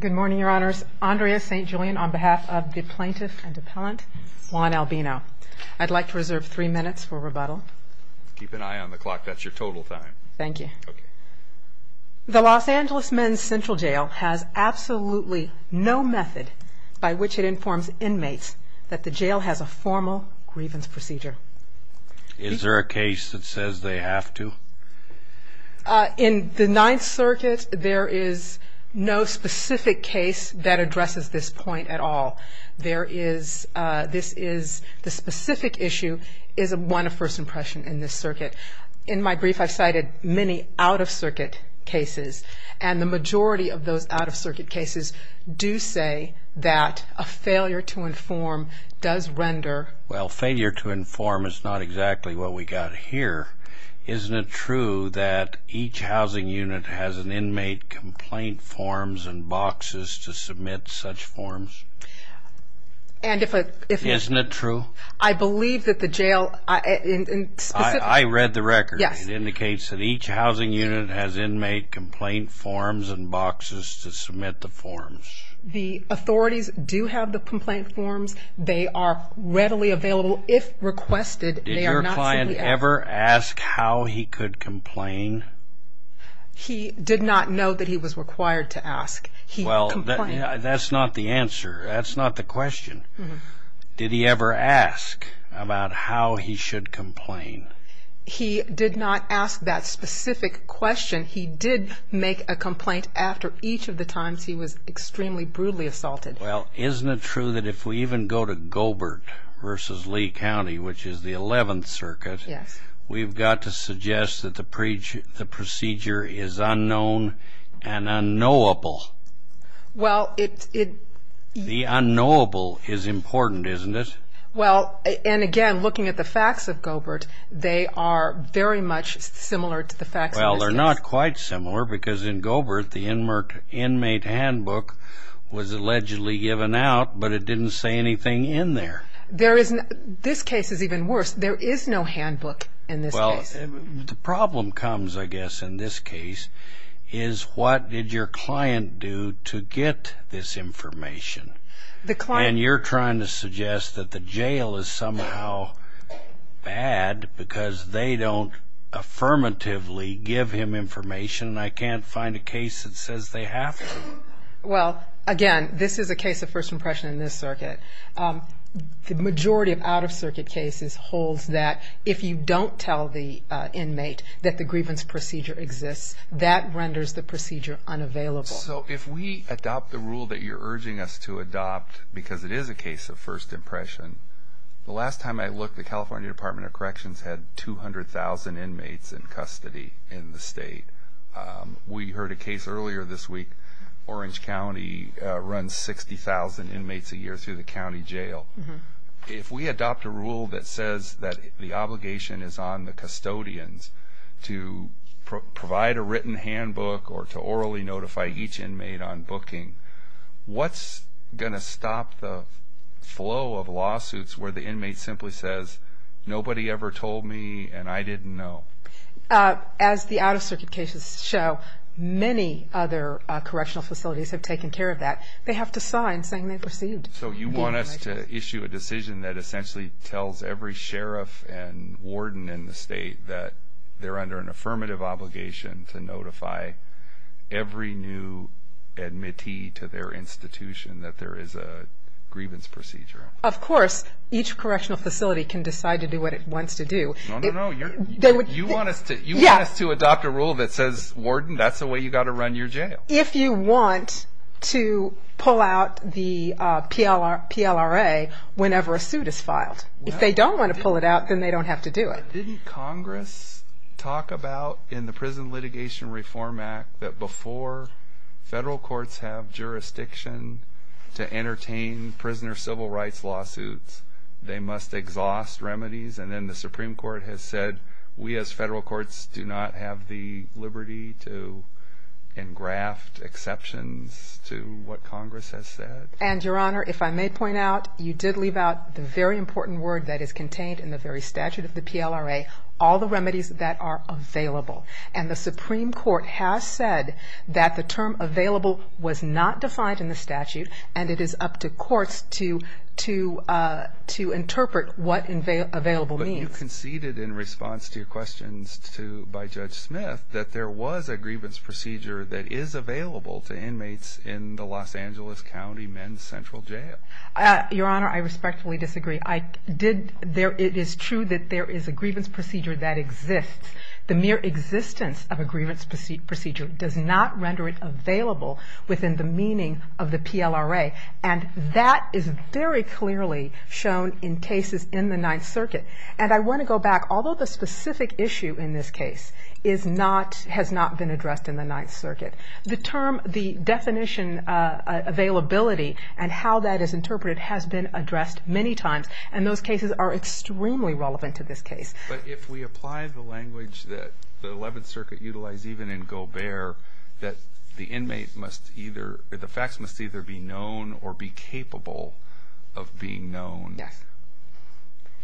Good morning, your honors. Andrea St. Julian on behalf of the plaintiff and appellant Juan Albino. I'd like to reserve three minutes for rebuttal. Keep an eye on the clock, that's your total time. Thank you. The Los Angeles Men's Central Jail has absolutely no method by which it informs inmates that the jail has a formal grievance procedure. Is there a case that says they have to? In the Ninth Circuit, there is no specific case that addresses this point at all. There is, this is, the specific issue is one of first impression in this circuit. In my brief, I've cited many out-of-circuit cases, and the majority of those out-of-circuit cases do say that a failure to inform does render... Well, failure to inform is not exactly what we got here. Isn't it true that each housing unit has an inmate complaint forms and boxes to submit such forms? And if it... Isn't it true? I believe that the jail... I read the record. Yes. It indicates that each housing unit has inmate complaint forms and boxes to submit the forms. The authorities do have the complaint forms. They are readily available if requested. Did your client ever ask how he could complain? He did not know that he was required to ask. Well, that's not the answer. That's not the question. Did he ever ask about how he should complain? He did not ask that specific question. He did make a complaint after each of the times he was extremely brutally assaulted. Well, isn't it true that if we even go to Gobert versus Lee County, which is the 11th Circuit, we've got to suggest that the procedure is unknown and unknowable? Well, it... The unknowable is important, isn't it? Well, and again, looking at the facts of Gobert, they are very much similar to the facts of this case. Well, they're not quite similar, because in Gobert, the inmate handbook was allegedly given out, but it didn't say anything in there. There is... This case is even worse. There is no handbook in this case. Well, the problem comes, I guess, in this case, is what did your client do to get this information? The client... And you're trying to suggest that the jail is somehow bad, because they don't affirmatively give him information, and I can't find a case that says they have to. Well, again, this is a case of first impression in this circuit. The majority of out-of-circuit cases holds that if you don't tell the inmate that the grievance procedure exists, that renders the procedure unavailable. So if we adopt the rule that you're urging us to adopt, because it is a case of first impression, the last time I looked, the California Department of Corrections had 200,000 inmates in custody in the state. We heard a case earlier this week. Orange County runs 60,000 inmates a year through the county jail. If we adopt a rule that says that the obligation is on the custodians to provide a written handbook or to orally notify each inmate on booking, what's going to stop the flow of lawsuits where the inmate simply says, nobody ever told me, and I didn't know? As the out-of-circuit cases show, many other correctional facilities have taken care of that. They have to sign saying they've received. So you want us to issue a decision that essentially tells every sheriff and warden in the state that they're under an affirmative obligation to notify every new admittee to their institution that there is a grievance procedure? Of course. Each correctional facility. You want us to adopt a rule that says, warden, that's the way you got to run your jail? If you want to pull out the PLRA whenever a suit is filed. If they don't want to pull it out, then they don't have to do it. Didn't Congress talk about, in the Prison Litigation Reform Act, that before federal courts have jurisdiction to entertain prisoner civil rights lawsuits, they must exhaust remedies? And then the Supreme Court has said, we as federal courts do not have the liberty to engraft exceptions to what Congress has said? And, Your Honor, if I may point out, you did leave out the very important word that is contained in the very statute of the PLRA, all the remedies that are available. And the Supreme Court has said that the term available was not defined in the statute, and it is up to courts to interpret what available means. But you conceded, in response to your questions by Judge Smith, that there was a grievance procedure that is available to inmates in the Los Angeles County Men's Central Jail. Your Honor, I respectfully disagree. It is true that there is a grievance procedure that exists. The mere existence of a grievance procedure does not render it available within the meaning of the PLRA. And that is very clearly shown in cases in the Ninth Circuit. And I want to go back. Although the specific issue in this case has not been addressed in the Ninth Circuit, the term, the definition, availability, and how that is interpreted has been addressed many times. And those cases are extremely relevant to this case. But if we apply the language that the Eleventh Circuit utilized even in Gobert, that the inmate must either, the facts must either be known or be capable of being known. Yes.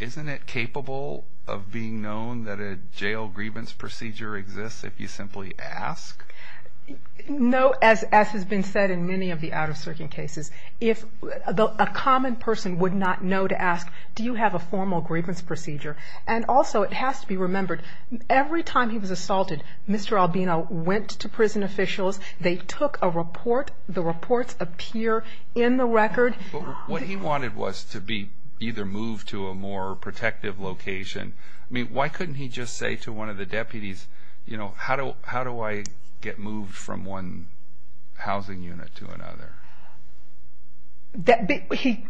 Isn't it capable of being known that a jail grievance procedure exists if you simply ask? No. As has been said in many of the out-of-circuit cases, if a common person would not know to ask, do you have a grievance procedure? And also, it has to be remembered, every time he was assaulted, Mr. Albino went to prison officials. They took a report. The reports appear in the record. But what he wanted was to be either moved to a more protective location. I mean, why couldn't he just say to one of the deputies, you know, how do I get moved from one housing unit to another?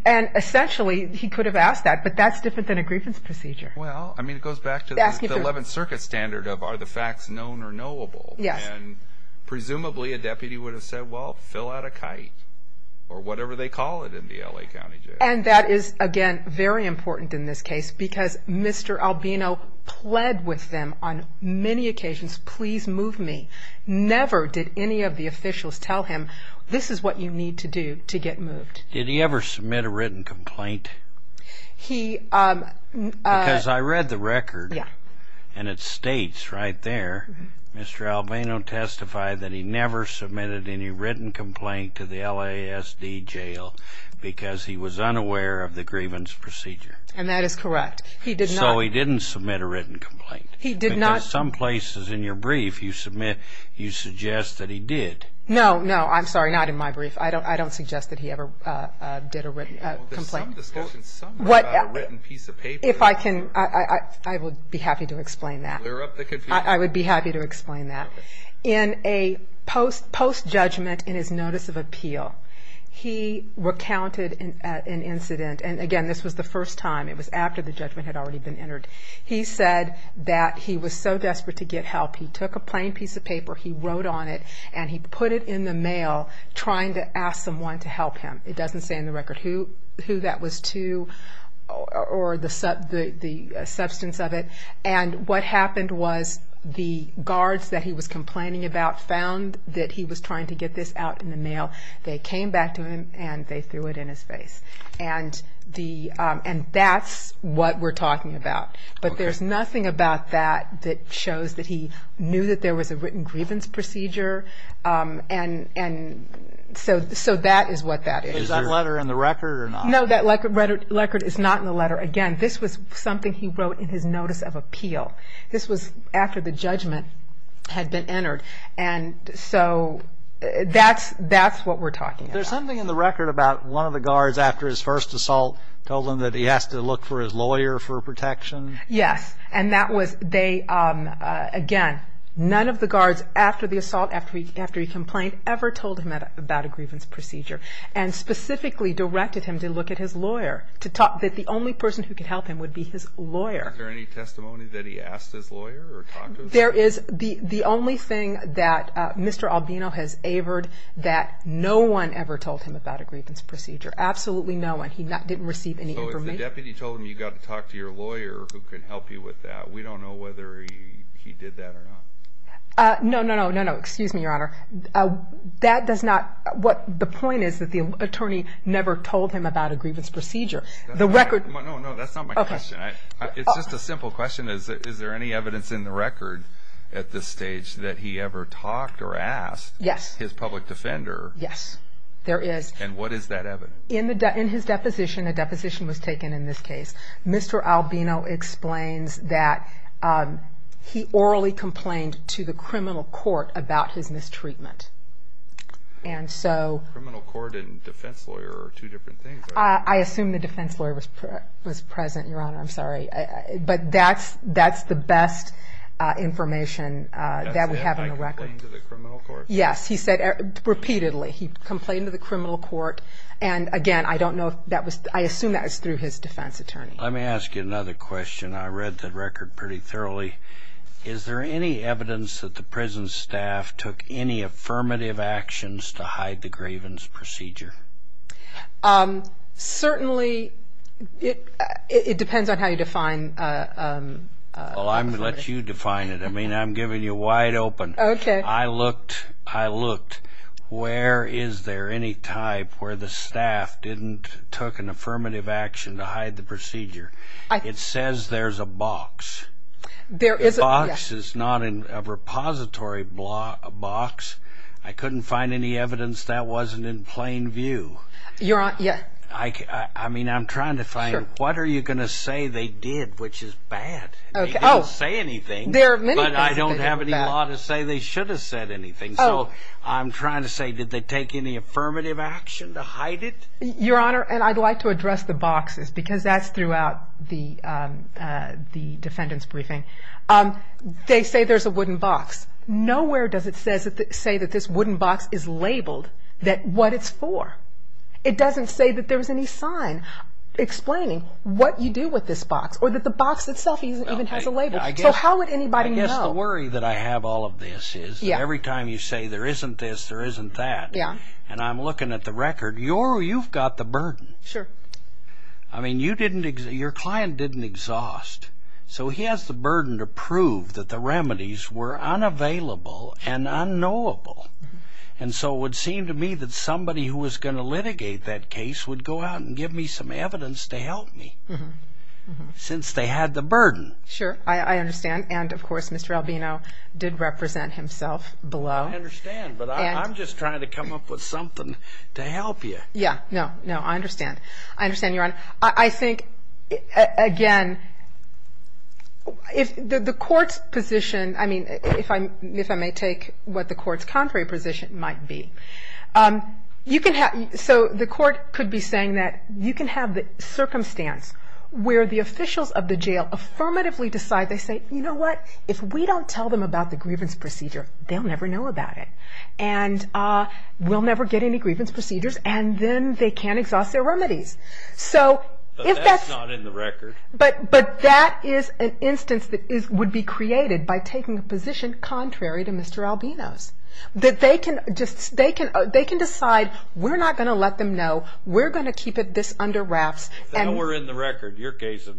And essentially, he could have asked that, but that's different than a grievance procedure. Well, I mean, it goes back to the Eleventh Circuit standard of, are the facts known or knowable? Yes. And presumably, a deputy would have said, well, fill out a kite or whatever they call it in the L.A. County Jail. And that is, again, very important in this case because Mr. Albino pled with them on many occasions, please move me. Never did any of the officials tell him, this is what you need to do to get moved. Did he ever submit a written complaint? He, um, because I read the record and it states right there, Mr. Albino testified that he never submitted any written complaint to the L.A. S. D. Jail because he was unaware of the grievance procedure. And that is correct. He did. So he didn't submit a written complaint. He did not. Some places in your brief you submit, you suggest that he did. No, no, I'm sorry. Not in my brief. I don't, I don't suggest that he ever, uh, uh, did a written complaint. If I can, I would be happy to explain that. I would be happy to explain that. In a post, post judgment in his notice of appeal, he recounted an incident. And again, this was the first time. It was after the judgment had already been entered. He said that he was so desperate to get help. He took a plain piece of paper. He wrote on it and he put it in the mail trying to ask someone to help him. It doesn't say in the record who, who that was to or the sub, the substance of it. And what happened was the guards that he was complaining about found that he was trying to get this out in the mail. They came back to him and they threw it in his face. And the, um, and that's what we're talking about. But there's nothing about that that shows that he knew that there was a written grievance procedure. Um, and, and so, so that is what that is. Is that letter in the record or not? No, that record record is not in the letter. Again, this was something he wrote in his notice of appeal. This was after the judgment had been entered. And so that's, that's what we're talking about. There's something in the record about one of the guards after his first assault told him that he has to look for his lawyer for protection. Yes. And that was, they, um, uh, again, none of the guards after the assault, after he, after he complained ever told him about a grievance procedure and specifically directed him to look at his lawyer to talk that the only person who could help him would be his lawyer. Is there any testimony that he asked his lawyer or talked to his lawyer? There is. The, the only thing that, uh, Mr. Albino has avered that no one ever told him about a grievance procedure. Absolutely no one. He not, didn't receive any information. The deputy told him you got to talk to your lawyer who can help you with that. We don't know whether he, he did that or not. Uh, no, no, no, no, no. Excuse me, your honor. Uh, that does not what the point is that the attorney never told him about a grievance procedure. The record. No, no, that's not my question. It's just a simple question. Is there any evidence in the record at this stage that he ever talked or asked his public defender? Yes, there is. And what is that evidence? In the, in his deposition, a deposition was taken in this case. Mr. Albino explains that, um, he orally complained to the criminal court about his mistreatment. And so criminal court and defense lawyer are two different things. I assume the defense lawyer was, was present. Your honor. I'm sorry. But that's, that's the best information that we have in the record. Yes. He said repeatedly he complained to the criminal court. And again, I don't know if that was, I assume that was through his defense attorney. Let me ask you another question. I read the record pretty thoroughly. Is there any evidence that the prison staff took any affirmative actions to hide the grievance procedure? Um, certainly it, it depends on how you define, uh, well, I'm gonna let you define it. I mean, I'm giving you wide open. I looked, I looked where is there any type where the staff didn't took an affirmative action to hide the procedure? It says there's a box. There is a box is not in a repository block box. I couldn't find any evidence that wasn't in plain view. You're on. Yeah. I mean, I'm trying to find what are you going to say? They did, which is bad. Okay. Say anything. There are many, but I don't have any law to say they should have said anything. So I'm trying to say, did they take any affirmative action to hide it? Your honor. And I'd like to address the boxes because that's throughout the, um, uh, the defendant's briefing. Um, they say there's a wooden box. Nowhere does it say that this wooden box is labeled that what it's for. It doesn't say that there was any sign explaining what you do with this box or that the box itself even has a word that I have all of this is every time you say there isn't this, there isn't that. Yeah. And I'm looking at the record. You're, you've got the burden. Sure. I mean, you didn't, your client didn't exhaust. So he has the burden to prove that the remedies were unavailable and unknowable. And so it would seem to me that somebody who was going to litigate that case would go out and give me some evidence to help me since they had the burden. Sure. I did represent himself below. I understand, but I'm just trying to come up with something to help you. Yeah, no, no, I understand. I understand. Your honor. I think again, if the court's position, I mean, if I'm, if I may take what the court's contrary position might be, um, you can have, so the court could be saying that you can have the circumstance where the officials of the jail affirmatively decide, they say, you know what, if we don't tell them about the grievance procedure, they'll never know about it. And, uh, we'll never get any grievance procedures and then they can't exhaust their remedies. So if that's not in the record, but, but that is an instance that is, would be created by taking a position contrary to Mr. Albino's, that they can just, they can, they can decide we're not going to let them know. We're going to keep it this under wraps and we're in the record. Your case is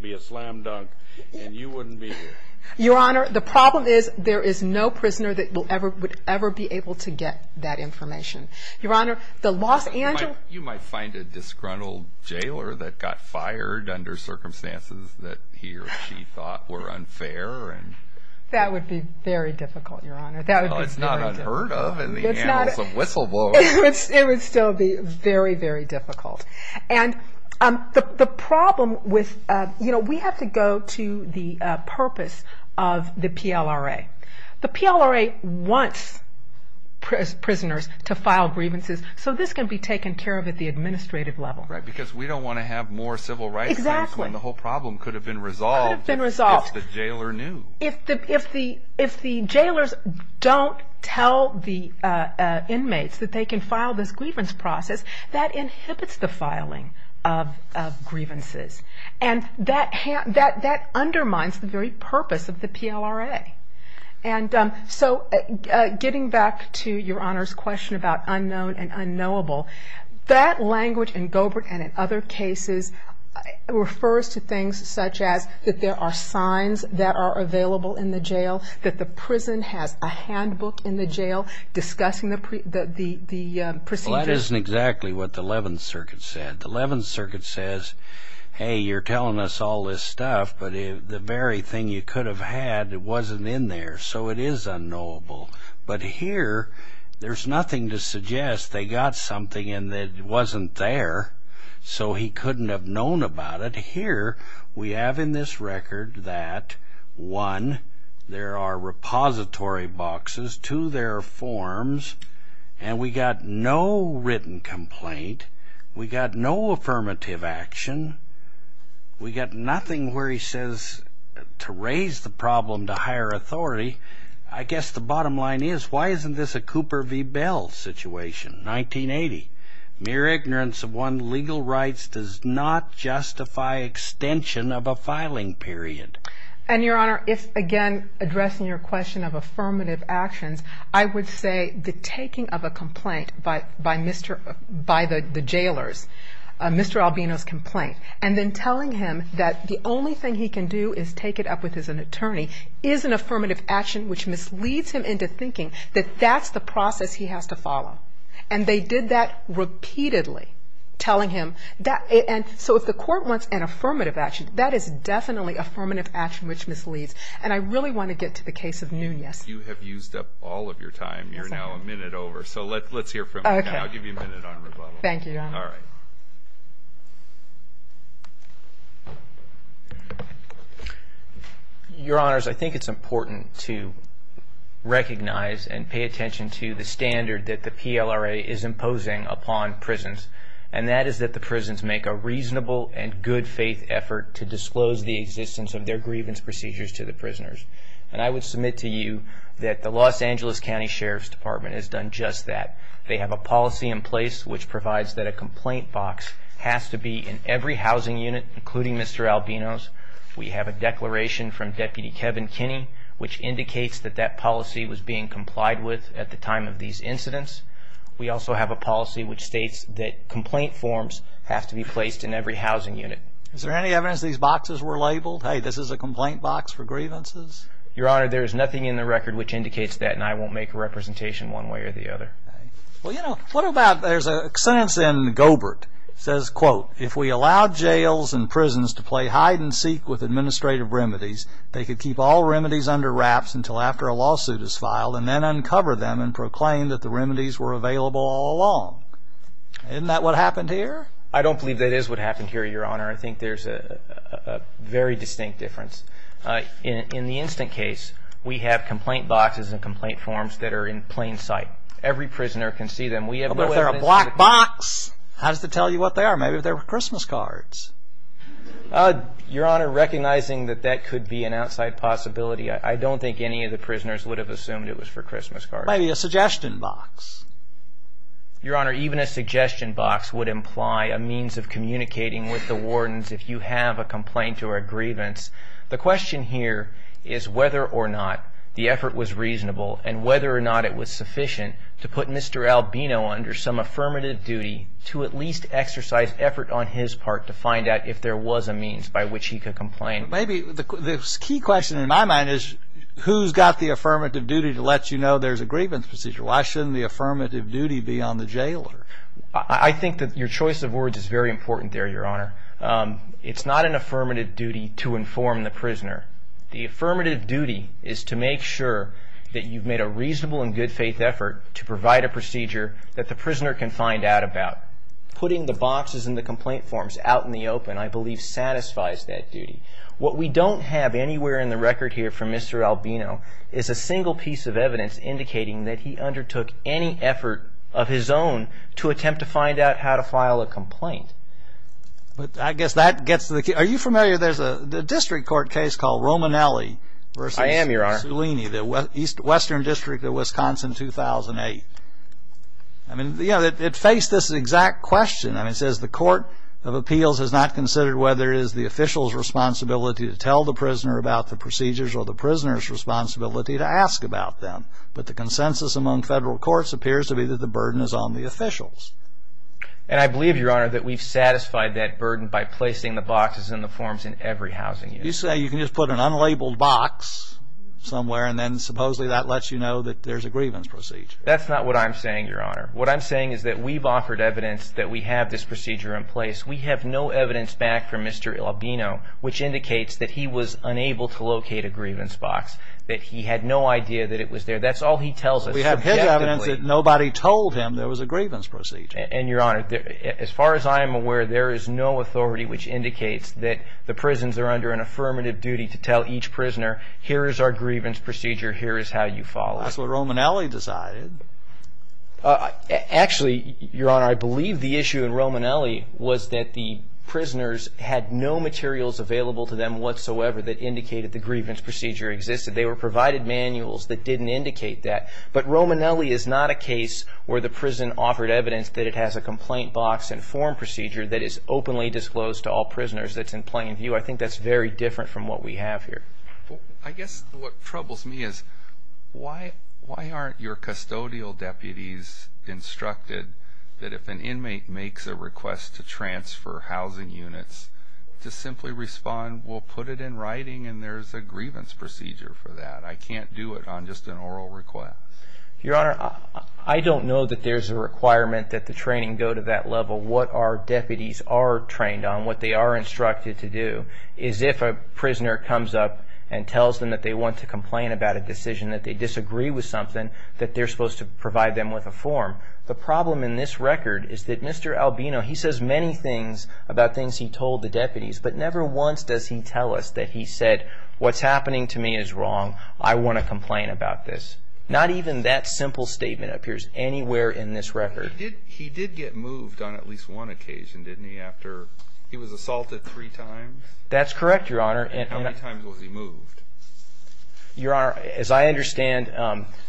there is no prisoner that will ever, would ever be able to get that information. Your honor, the Los Angeles, you might find a disgruntled jailer that got fired under circumstances that he or she thought were unfair. And that would be very difficult. Your honor. It's not unheard of. It's not a whistleblower. It would still be very, very difficult. And, um, the, the problem with, uh, you know, we have to go to the, uh, purpose of the PLRA. The PLRA wants prisoners to file grievances. So this can be taken care of at the administrative level, right? Because we don't want to have more civil rights. Exactly. And the whole problem could have been resolved. It's been resolved. The jailer knew if the, if the, if the jailers don't tell the, uh, uh, inmates that they can file this grievance process that inhibits the grievances. And that, that, that undermines the very purpose of the PLRA. And, um, so, uh, uh, getting back to your honor's question about unknown and unknowable, that language in Gobert and in other cases refers to things such as that there are signs that are available in the jail, that the prison has a handbook in the jail discussing the, the, the, uh, procedures. That isn't exactly what the 11th circuit said. The 11th circuit says, Hey, you're telling us all this stuff, but the very thing you could have had, it wasn't in there. So it is unknowable, but here there's nothing to suggest they got something in that wasn't there. So he couldn't have known about it here. We have in this record that one, there are repository boxes to their forms and we got no affirmative action. We got nothing where he says to raise the problem to higher authority. I guess the bottom line is why isn't this a Cooper v. Bell situation? 1980 mere ignorance of one legal rights does not justify extension of a filing period. And your honor, if again, addressing your question of affirmative actions, I would say the taking of a complaint by, by Mr. By the, the jailers, Mr. Albino's complaint, and then telling him that the only thing he can do is take it up with his, an attorney is an affirmative action, which misleads him into thinking that that's the process he has to follow. And they did that repeatedly telling him that. And so if the court wants an affirmative action, that is definitely affirmative action, which misleads. And I really want to get to the case of Nunez. You have used up all of your time. You're now a minute over. So let's, let's hear from you. I'll give you a minute on rebuttal. Thank you. All right. Your honors, I think it's important to recognize and pay attention to the standard that the PLRA is imposing upon prisons. And that is that the prisons make a reasonable and good faith effort to disclose the existence of their I would submit to you that the Los Angeles County Sheriff's Department has done just that. They have a policy in place which provides that a complaint box has to be in every housing unit, including Mr. Albino's. We have a declaration from Deputy Kevin Kinney, which indicates that that policy was being complied with at the time of these incidents. We also have a policy which states that complaint forms have to be placed in every housing unit. Is there any evidence these boxes were labeled? Hey, this is a complaint box for grievances. Your honor, there is nothing in the record which indicates that. And I won't make a representation one way or the other. Well, you know, what about there's a sentence in Gobert says, quote, If we allow jails and prisons to play hide and seek with administrative remedies, they could keep all remedies under wraps until after a lawsuit is filed and then uncover them and proclaim that the remedies were available all along. Isn't that what happened here? I don't believe that is what happened here, your honor. I think there's a very distinct difference. In the instant case, we have complaint boxes and complaint forms that are in plain sight. Every prisoner can see them. We have a black box. How does it tell you what they are? Maybe they're Christmas cards, your honor, recognizing that that could be an outside possibility. I don't think any of the prisoners would have assumed it was for Christmas card, maybe a suggestion box, your honor. Even a suggestion box would imply a means of communicating with the wardens. If you have a complaint or a grievance, the question here is whether or not the effort was reasonable and whether or not it was sufficient to put Mr Albino under some affirmative duty to at least exercise effort on his part to find out if there was a means by which he could complain. Maybe the key question in my mind is who's got the affirmative duty to let you know there's a grievance procedure. Why shouldn't the affirmative duty be on the jailer? I think that your choice of words is very important there, your honor. It's not an affirmative duty to inform the prisoner. The affirmative duty is to make sure that you've made a reasonable and good faith effort to provide a procedure that the prisoner can find out about. Putting the boxes and the complaint forms out in the open, I believe, satisfies that duty. What we don't have anywhere in the record here from Mr. Albino is a single piece of evidence indicating that he undertook any effort of his own to attempt to find out how to file a complaint. But I guess that gets to the key. Are you familiar? There's a district court case called Romanelli versus Salini. I am, your honor. The Western District of Wisconsin 2008. I mean, you know, it faced this exact question. It says the Court of Appeals has not considered whether it is the official's or the prisoner's responsibility to ask about them. But the consensus among federal courts appears to be that the burden is on the officials. And I believe, your honor, that we've satisfied that burden by placing the boxes and the forms in every housing unit. You say you can just put an unlabeled box somewhere and then supposedly that lets you know that there's a grievance procedure. That's not what I'm saying, your honor. What I'm saying is that we've offered evidence that we have this procedure in place. We have no evidence back from Mr. Albino which indicates that he was unable to locate a grievance box, that he had no idea that it was there. That's all he tells us. We have his evidence that nobody told him there was a grievance procedure. And, your honor, as far as I am aware, there is no authority which indicates that the prisons are under an affirmative duty to tell each prisoner, here is our grievance procedure, here is how you follow. That's what Romanelli decided. Actually, your honor, I believe the issue in Romanelli was that the prisoners had no materials available to them whatsoever that indicated the grievance procedure existed. They were provided manuals that didn't indicate that. But Romanelli is not a case where the prison offered evidence that it has a complaint box and form procedure that is openly disclosed to all prisoners that's in plain view. I think that's very different from what we have here. I guess what troubles me is why aren't your custodial deputies instructed that if an inmate makes a request to transfer housing units to simply respond, we'll put it in writing and there's a grievance procedure for that. I can't do it on just an oral request. Your honor, I don't know that there's a requirement that the training go to that level. What our deputies are trained on, what they are instructed to do, is if a prisoner comes up and tells them that they want to complain about a decision, that they disagree with something, that they're supposed to provide them with a form. The problem in this record is that Mr. Albino, he says many things about things he told the deputies, but never once does he tell us that he said, what's happening to me is wrong. I want to complain about this. Not even that simple statement appears anywhere in this record. He did get moved on at least one occasion, didn't he? After he was assaulted three times? That's correct, your honor. And how many times was he moved? Your honor, as I understand,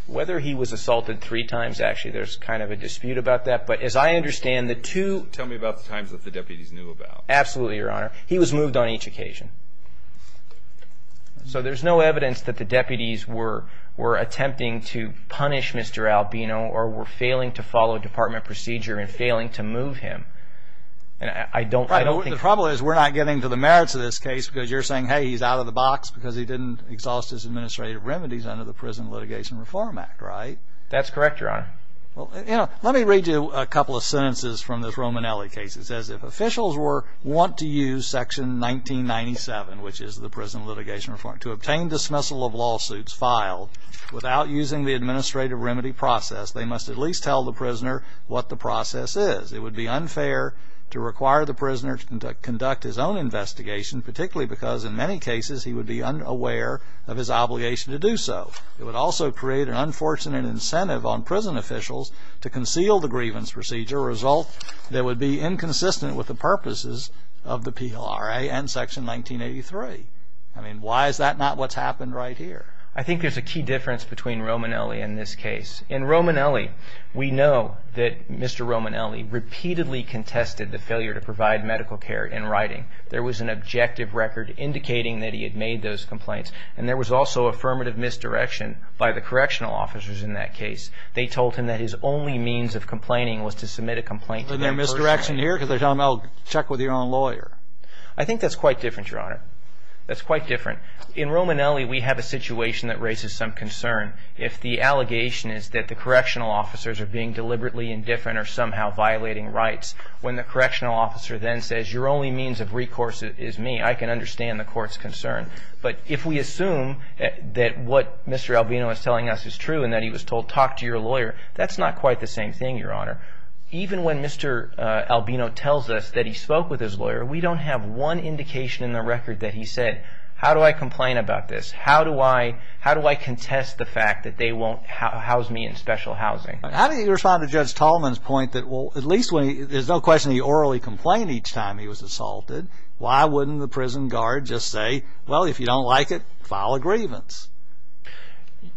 whether he was assaulted three times, actually, there's kind of a dispute about that. But as I understand the two, tell me about the times that the deputies knew about. Absolutely, your honor. So there's no evidence that the deputies were attempting to punish Mr. Albino or were failing to follow department procedure and failing to move him. And I don't think... The problem is we're not getting to the merits of this case because you're saying, hey, he's out of the box because he didn't exhaust his administrative remedies under the Prison Litigation Reform Act, right? That's correct, your honor. Well, you know, let me read you a couple of sentences from this 1997, which is the Prison Litigation Reform. To obtain dismissal of lawsuits filed without using the administrative remedy process, they must at least tell the prisoner what the process is. It would be unfair to require the prisoner to conduct his own investigation, particularly because in many cases he would be unaware of his obligation to do so. It would also create an unfortunate incentive on prison officials to conceal the grievance procedure, a result that would be inconsistent with the purposes of the PLRA and Section 1983. I mean, why is that not what's happened right here? I think there's a key difference between Romanelli and this case. In Romanelli, we know that Mr. Romanelli repeatedly contested the failure to provide medical care in writing. There was an objective record indicating that he had made those complaints. And there was also affirmative misdirection by the correctional officers in that case. They told him that his only means of complaining was to submit a complaint to them personally. Was there misdirection here? Because they're telling him, I'll check with your own lawyer. I think that's quite different, Your Honor. That's quite different. In Romanelli, we have a situation that raises some concern. If the allegation is that the correctional officers are being deliberately indifferent or somehow violating rights, when the correctional officer then says, your only means of recourse is me, I can understand the court's concern. But if we assume that what Mr. Albino is telling us is true and that he was told, talk to your lawyer, that's not quite the same thing, Your Honor. Even when Mr. Albino tells us that he spoke with his lawyer, we don't have one indication in the record that he said, how do I complain about this? How do I contest the fact that they won't house me in special housing? How do you respond to Judge Tallman's point that well, at least there's no question he orally complained each time he was assaulted. Why wouldn't the prison guard just say, well, if you don't like it, file a grievance?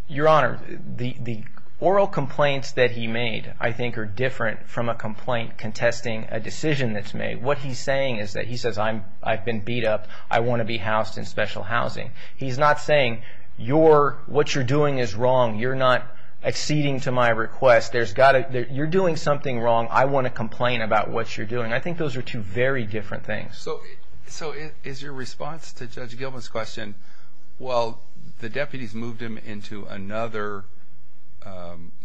Your Honor, the oral complaints that he made, I think, are different from a complaint contesting a decision that's made. What he's saying is that he says, I've been beat up. I want to be housed in special housing. He's not saying, what you're doing is wrong. You're not acceding to my request. You're doing something wrong. I want to complain about what you're doing. I think those are two very different things. So is your response to Judge Tallman, well, the deputies moved him into another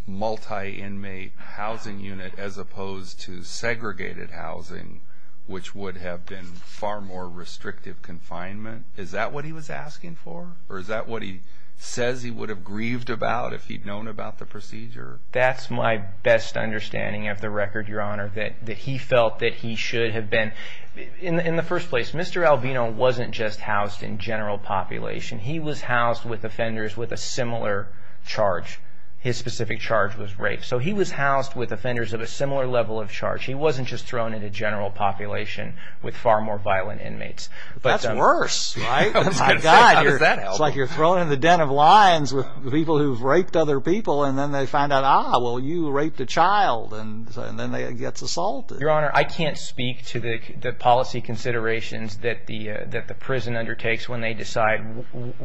multi-inmate housing unit as opposed to segregated housing, which would have been far more restrictive confinement? Is that what he was asking for? Or is that what he says he would have grieved about if he'd known about the procedure? That's my best understanding of the record, Your Honor, that he felt that he should have been, in the first place, Mr. He was housed with offenders with a similar charge. His specific charge was rape. So he was housed with offenders of a similar level of charge. He wasn't just thrown into general population with far more violent inmates. That's worse, right? It's like you're thrown in the den of lions with people who've raped other people, and then they find out, ah, well, you raped a child, and then they get assaulted. Your Honor, I can't speak to the policy considerations that the judges have to decide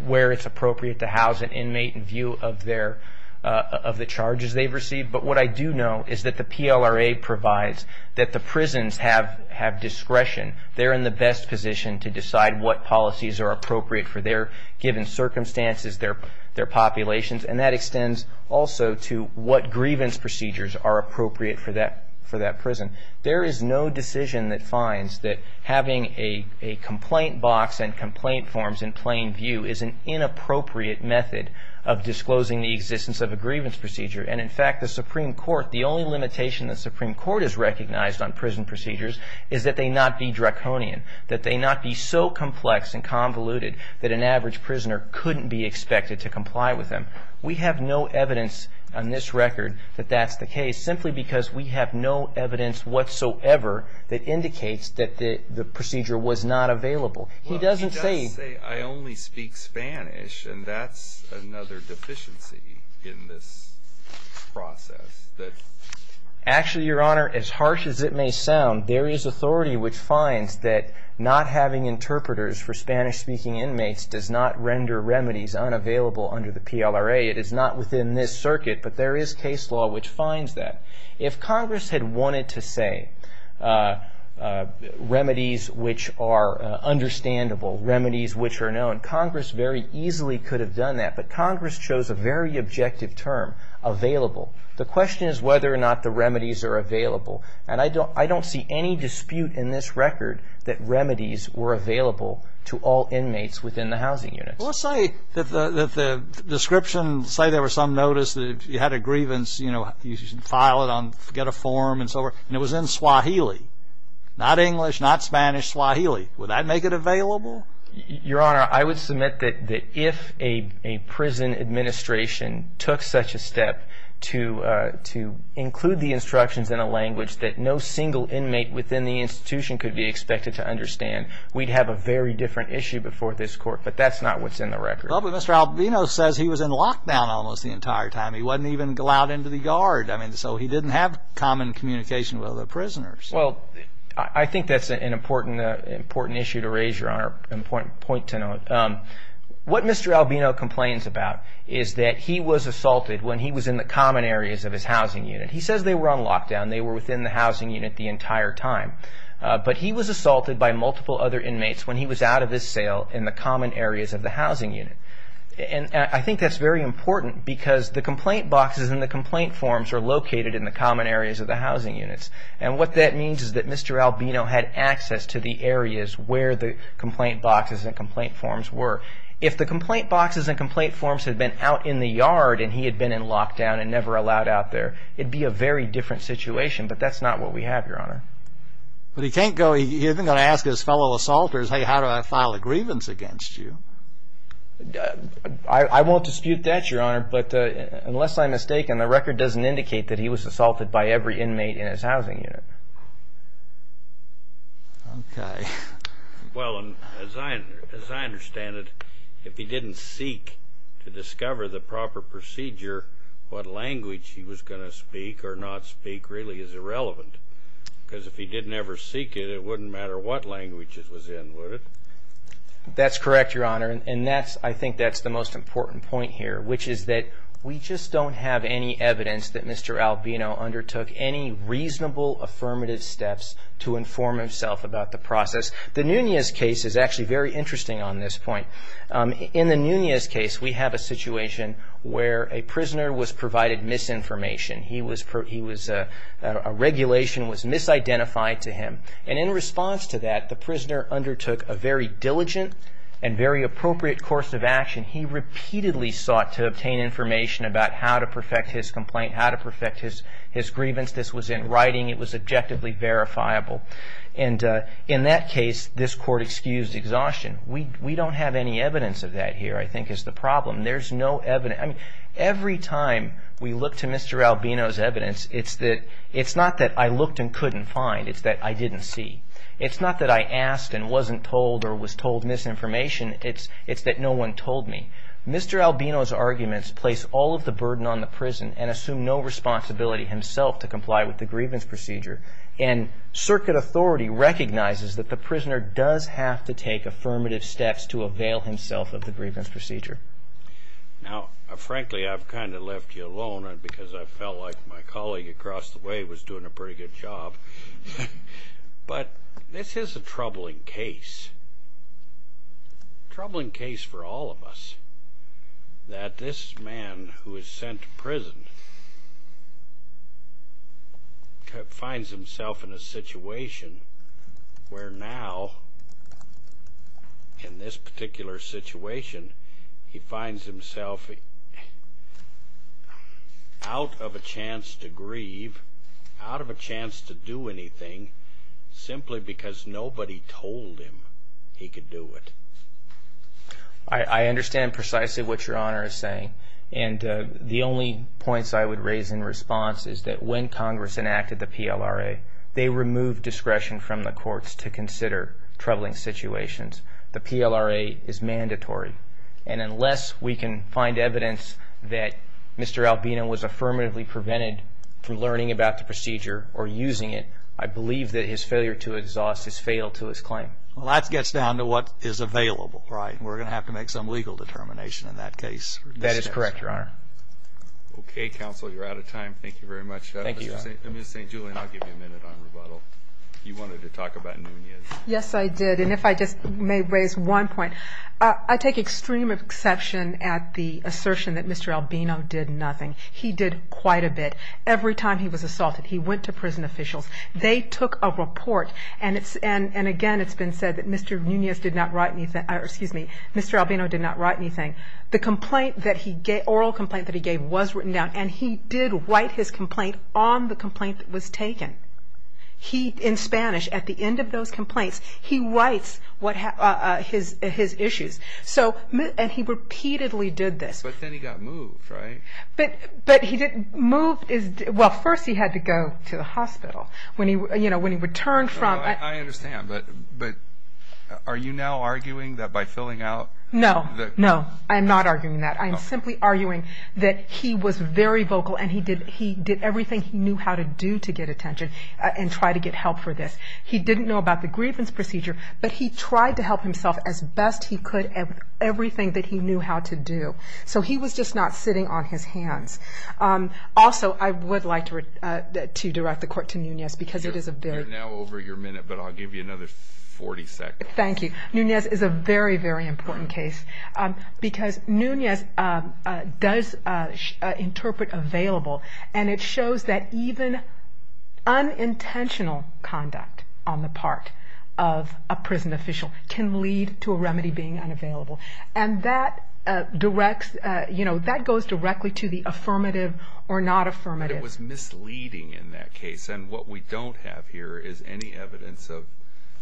where it's appropriate to house an inmate in view of the charges they've received. But what I do know is that the PLRA provides that the prisons have discretion. They're in the best position to decide what policies are appropriate for their given circumstances, their populations, and that extends also to what grievance procedures are appropriate for that prison. There is no decision that finds that having a complaint box and complaint forms in plain view is an inappropriate method of disclosing the existence of a grievance procedure. And in fact, the Supreme Court, the only limitation the Supreme Court has recognized on prison procedures is that they not be draconian, that they not be so complex and convoluted that an average prisoner couldn't be expected to comply with them. We have no evidence on this record that that's the case, simply because we have no evidence whatsoever that indicates that the procedure was not available. He doesn't say... He does say, I only speak Spanish, and that's another deficiency in this process. Actually, Your Honor, as harsh as it may sound, there is authority which finds that not having interpreters for Spanish-speaking inmates does not render remedies unavailable under the PLRA. It is not within this circuit, but there is case law which finds that. If Congress had wanted to say remedies which are understandable, remedies which are known, Congress very easily could have done that. But Congress chose a very objective term, available. The question is whether or not the remedies are available. And I don't see any dispute in this record that remedies were available to all inmates within the housing units. Let's say that the description, say there was some notice that you had a grievance, you know, you should file it on, get a form and so forth, and it was in Swahili. Not English, not Spanish, Swahili. Would that make it available? Your Honor, I would submit that if a prison administration took such a step to include the instructions in a language that no single inmate within the institution could be expected to understand, we'd have a very different issue before this Court. But that's not what's in the record. Well, but Mr. Albino says he was in lockdown almost the entire time. He wasn't even allowed into the guard. I mean, so he didn't have common communication with other prisoners. Well, I think that's an important issue to raise, Your Honor, and a point to note. What Mr. Albino complains about is that he was assaulted when he was in the common areas of his housing unit. He says they were on lockdown. They were within out of his cell in the common areas of the housing unit. And I think that's very important because the complaint boxes and the complaint forms are located in the common areas of the housing units. And what that means is that Mr. Albino had access to the areas where the complaint boxes and complaint forms were. If the complaint boxes and complaint forms had been out in the yard and he had been in lockdown and never allowed out there, it'd be a very different situation. But that's not what we have, Your Honor. But he can't go, he isn't going to ask his fellow assaulters, hey, how do I file a grievance against you? I won't dispute that, Your Honor, but unless I'm mistaken, the record doesn't indicate that he was assaulted by every inmate in his housing unit. Okay. Well, as I understand it, if he didn't seek to discover the proper procedure, what language he was going to speak or not speak really is irrelevant. Because if he didn't ever seek it, it wouldn't matter what language it was in, would it? That's correct, Your Honor. And that's, I think that's the most important point here, which is that we just don't have any evidence that Mr. Albino undertook any reasonable affirmative steps to inform himself about the process. The Nunez case is actually very interesting on this point. In the Nunez case, the prisoner was provided misinformation. He was, a regulation was misidentified to him. And in response to that, the prisoner undertook a very diligent and very appropriate course of action. He repeatedly sought to obtain information about how to perfect his complaint, how to perfect his grievance. This was in writing. It was objectively verifiable. And in that case, this court excused exhaustion. We don't have any evidence of that here, I mean, every time we look to Mr. Albino's evidence, it's not that I looked and couldn't find. It's that I didn't see. It's not that I asked and wasn't told or was told misinformation. It's that no one told me. Mr. Albino's arguments place all of the burden on the prison and assume no responsibility himself to comply with the grievance procedure. And circuit authority recognizes that the prisoner does have to take affirmative steps to avail himself of the grievance procedure. Now, frankly, I've kind of left you alone and because I felt like my colleague across the way was doing a pretty good job. But this is a troubling case. Troubling case for all of us, that this man who was sent to prison finds himself in a situation where now, in this particular situation, he finds himself out of a chance to grieve, out of a chance to do anything simply because nobody told him he could do it. I understand precisely what Your Honor is saying. And the only points I would raise in response is that when Congress enacted the PLRA, they removed discretion from the courts to consider troubling situations. The PLRA is mandatory. And unless we can find evidence that Mr. Albino was affirmatively prevented from learning about the procedure or using it, I believe that his failure to exhaust has failed to his claim. Well, that gets down to what is available, right? We're gonna have to make some legal determination in that case. That is correct, Your Honor. Okay, Counsel, you're out of time. Thank you very much. Thank you. I'm just saying, Julian, I'll give you a minute on rebuttal. You wanted to talk about Nunez. Yes, I did. And if I just may raise one point. I take extreme exception at the assertion that Mr. Albino did nothing. He did quite a bit. Every time he was assaulted, he went to prison officials. They took a report. And again, it's been said that Mr. Nunez did not write anything... Excuse me. Mr. Albino did not write anything. The complaint that he gave, oral complaint that he gave, was written down. And he did not write his complaint on the complaint that was taken. He, in Spanish, at the end of those complaints, he writes his issues. And he repeatedly did this. But then he got moved, right? But he didn't... Moved is... Well, first he had to go to the hospital. When he returned from... I understand, but are you now arguing that by filling out... No, no, I'm not arguing that. I'm simply arguing that he was very vocal and he did everything he knew how to do to get attention and try to get help for this. He didn't know about the grievance procedure, but he tried to help himself as best he could at everything that he knew how to do. So he was just not sitting on his hands. Also, I would like to direct the court to Nunez because it is a very... You're now over your minute, but I'll give you another 40 seconds. Thank you. Nunez is a very, very important case. Because Nunez does interpret available, and it shows that even unintentional conduct on the part of a prison official can lead to a remedy being unavailable. And that directs... That goes directly to the affirmative or not affirmative. It was misleading in that case. And what we don't have here is any evidence of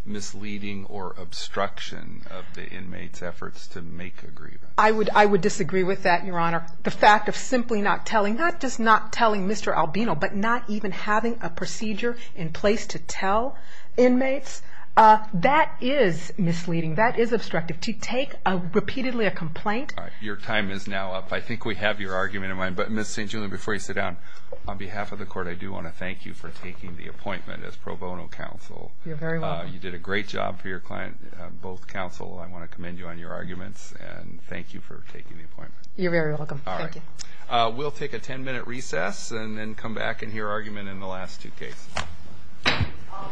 misleading or obstruction of the make agreement. I would disagree with that, Your Honor. The fact of simply not telling, not just not telling Mr. Albino, but not even having a procedure in place to tell inmates, that is misleading, that is obstructive. To take repeatedly a complaint... Your time is now up. I think we have your argument in mind. But Ms. St. Julian, before you sit down, on behalf of the court, I do wanna thank you for taking the appointment as pro bono counsel. You're very welcome. You did a great job for your client, both counsel. I wanna commend you on your arguments, and thank you for taking the appointment. You're very welcome. Thank you. We'll take a 10 minute recess, and then come back and hear argument in the last two cases. All rise.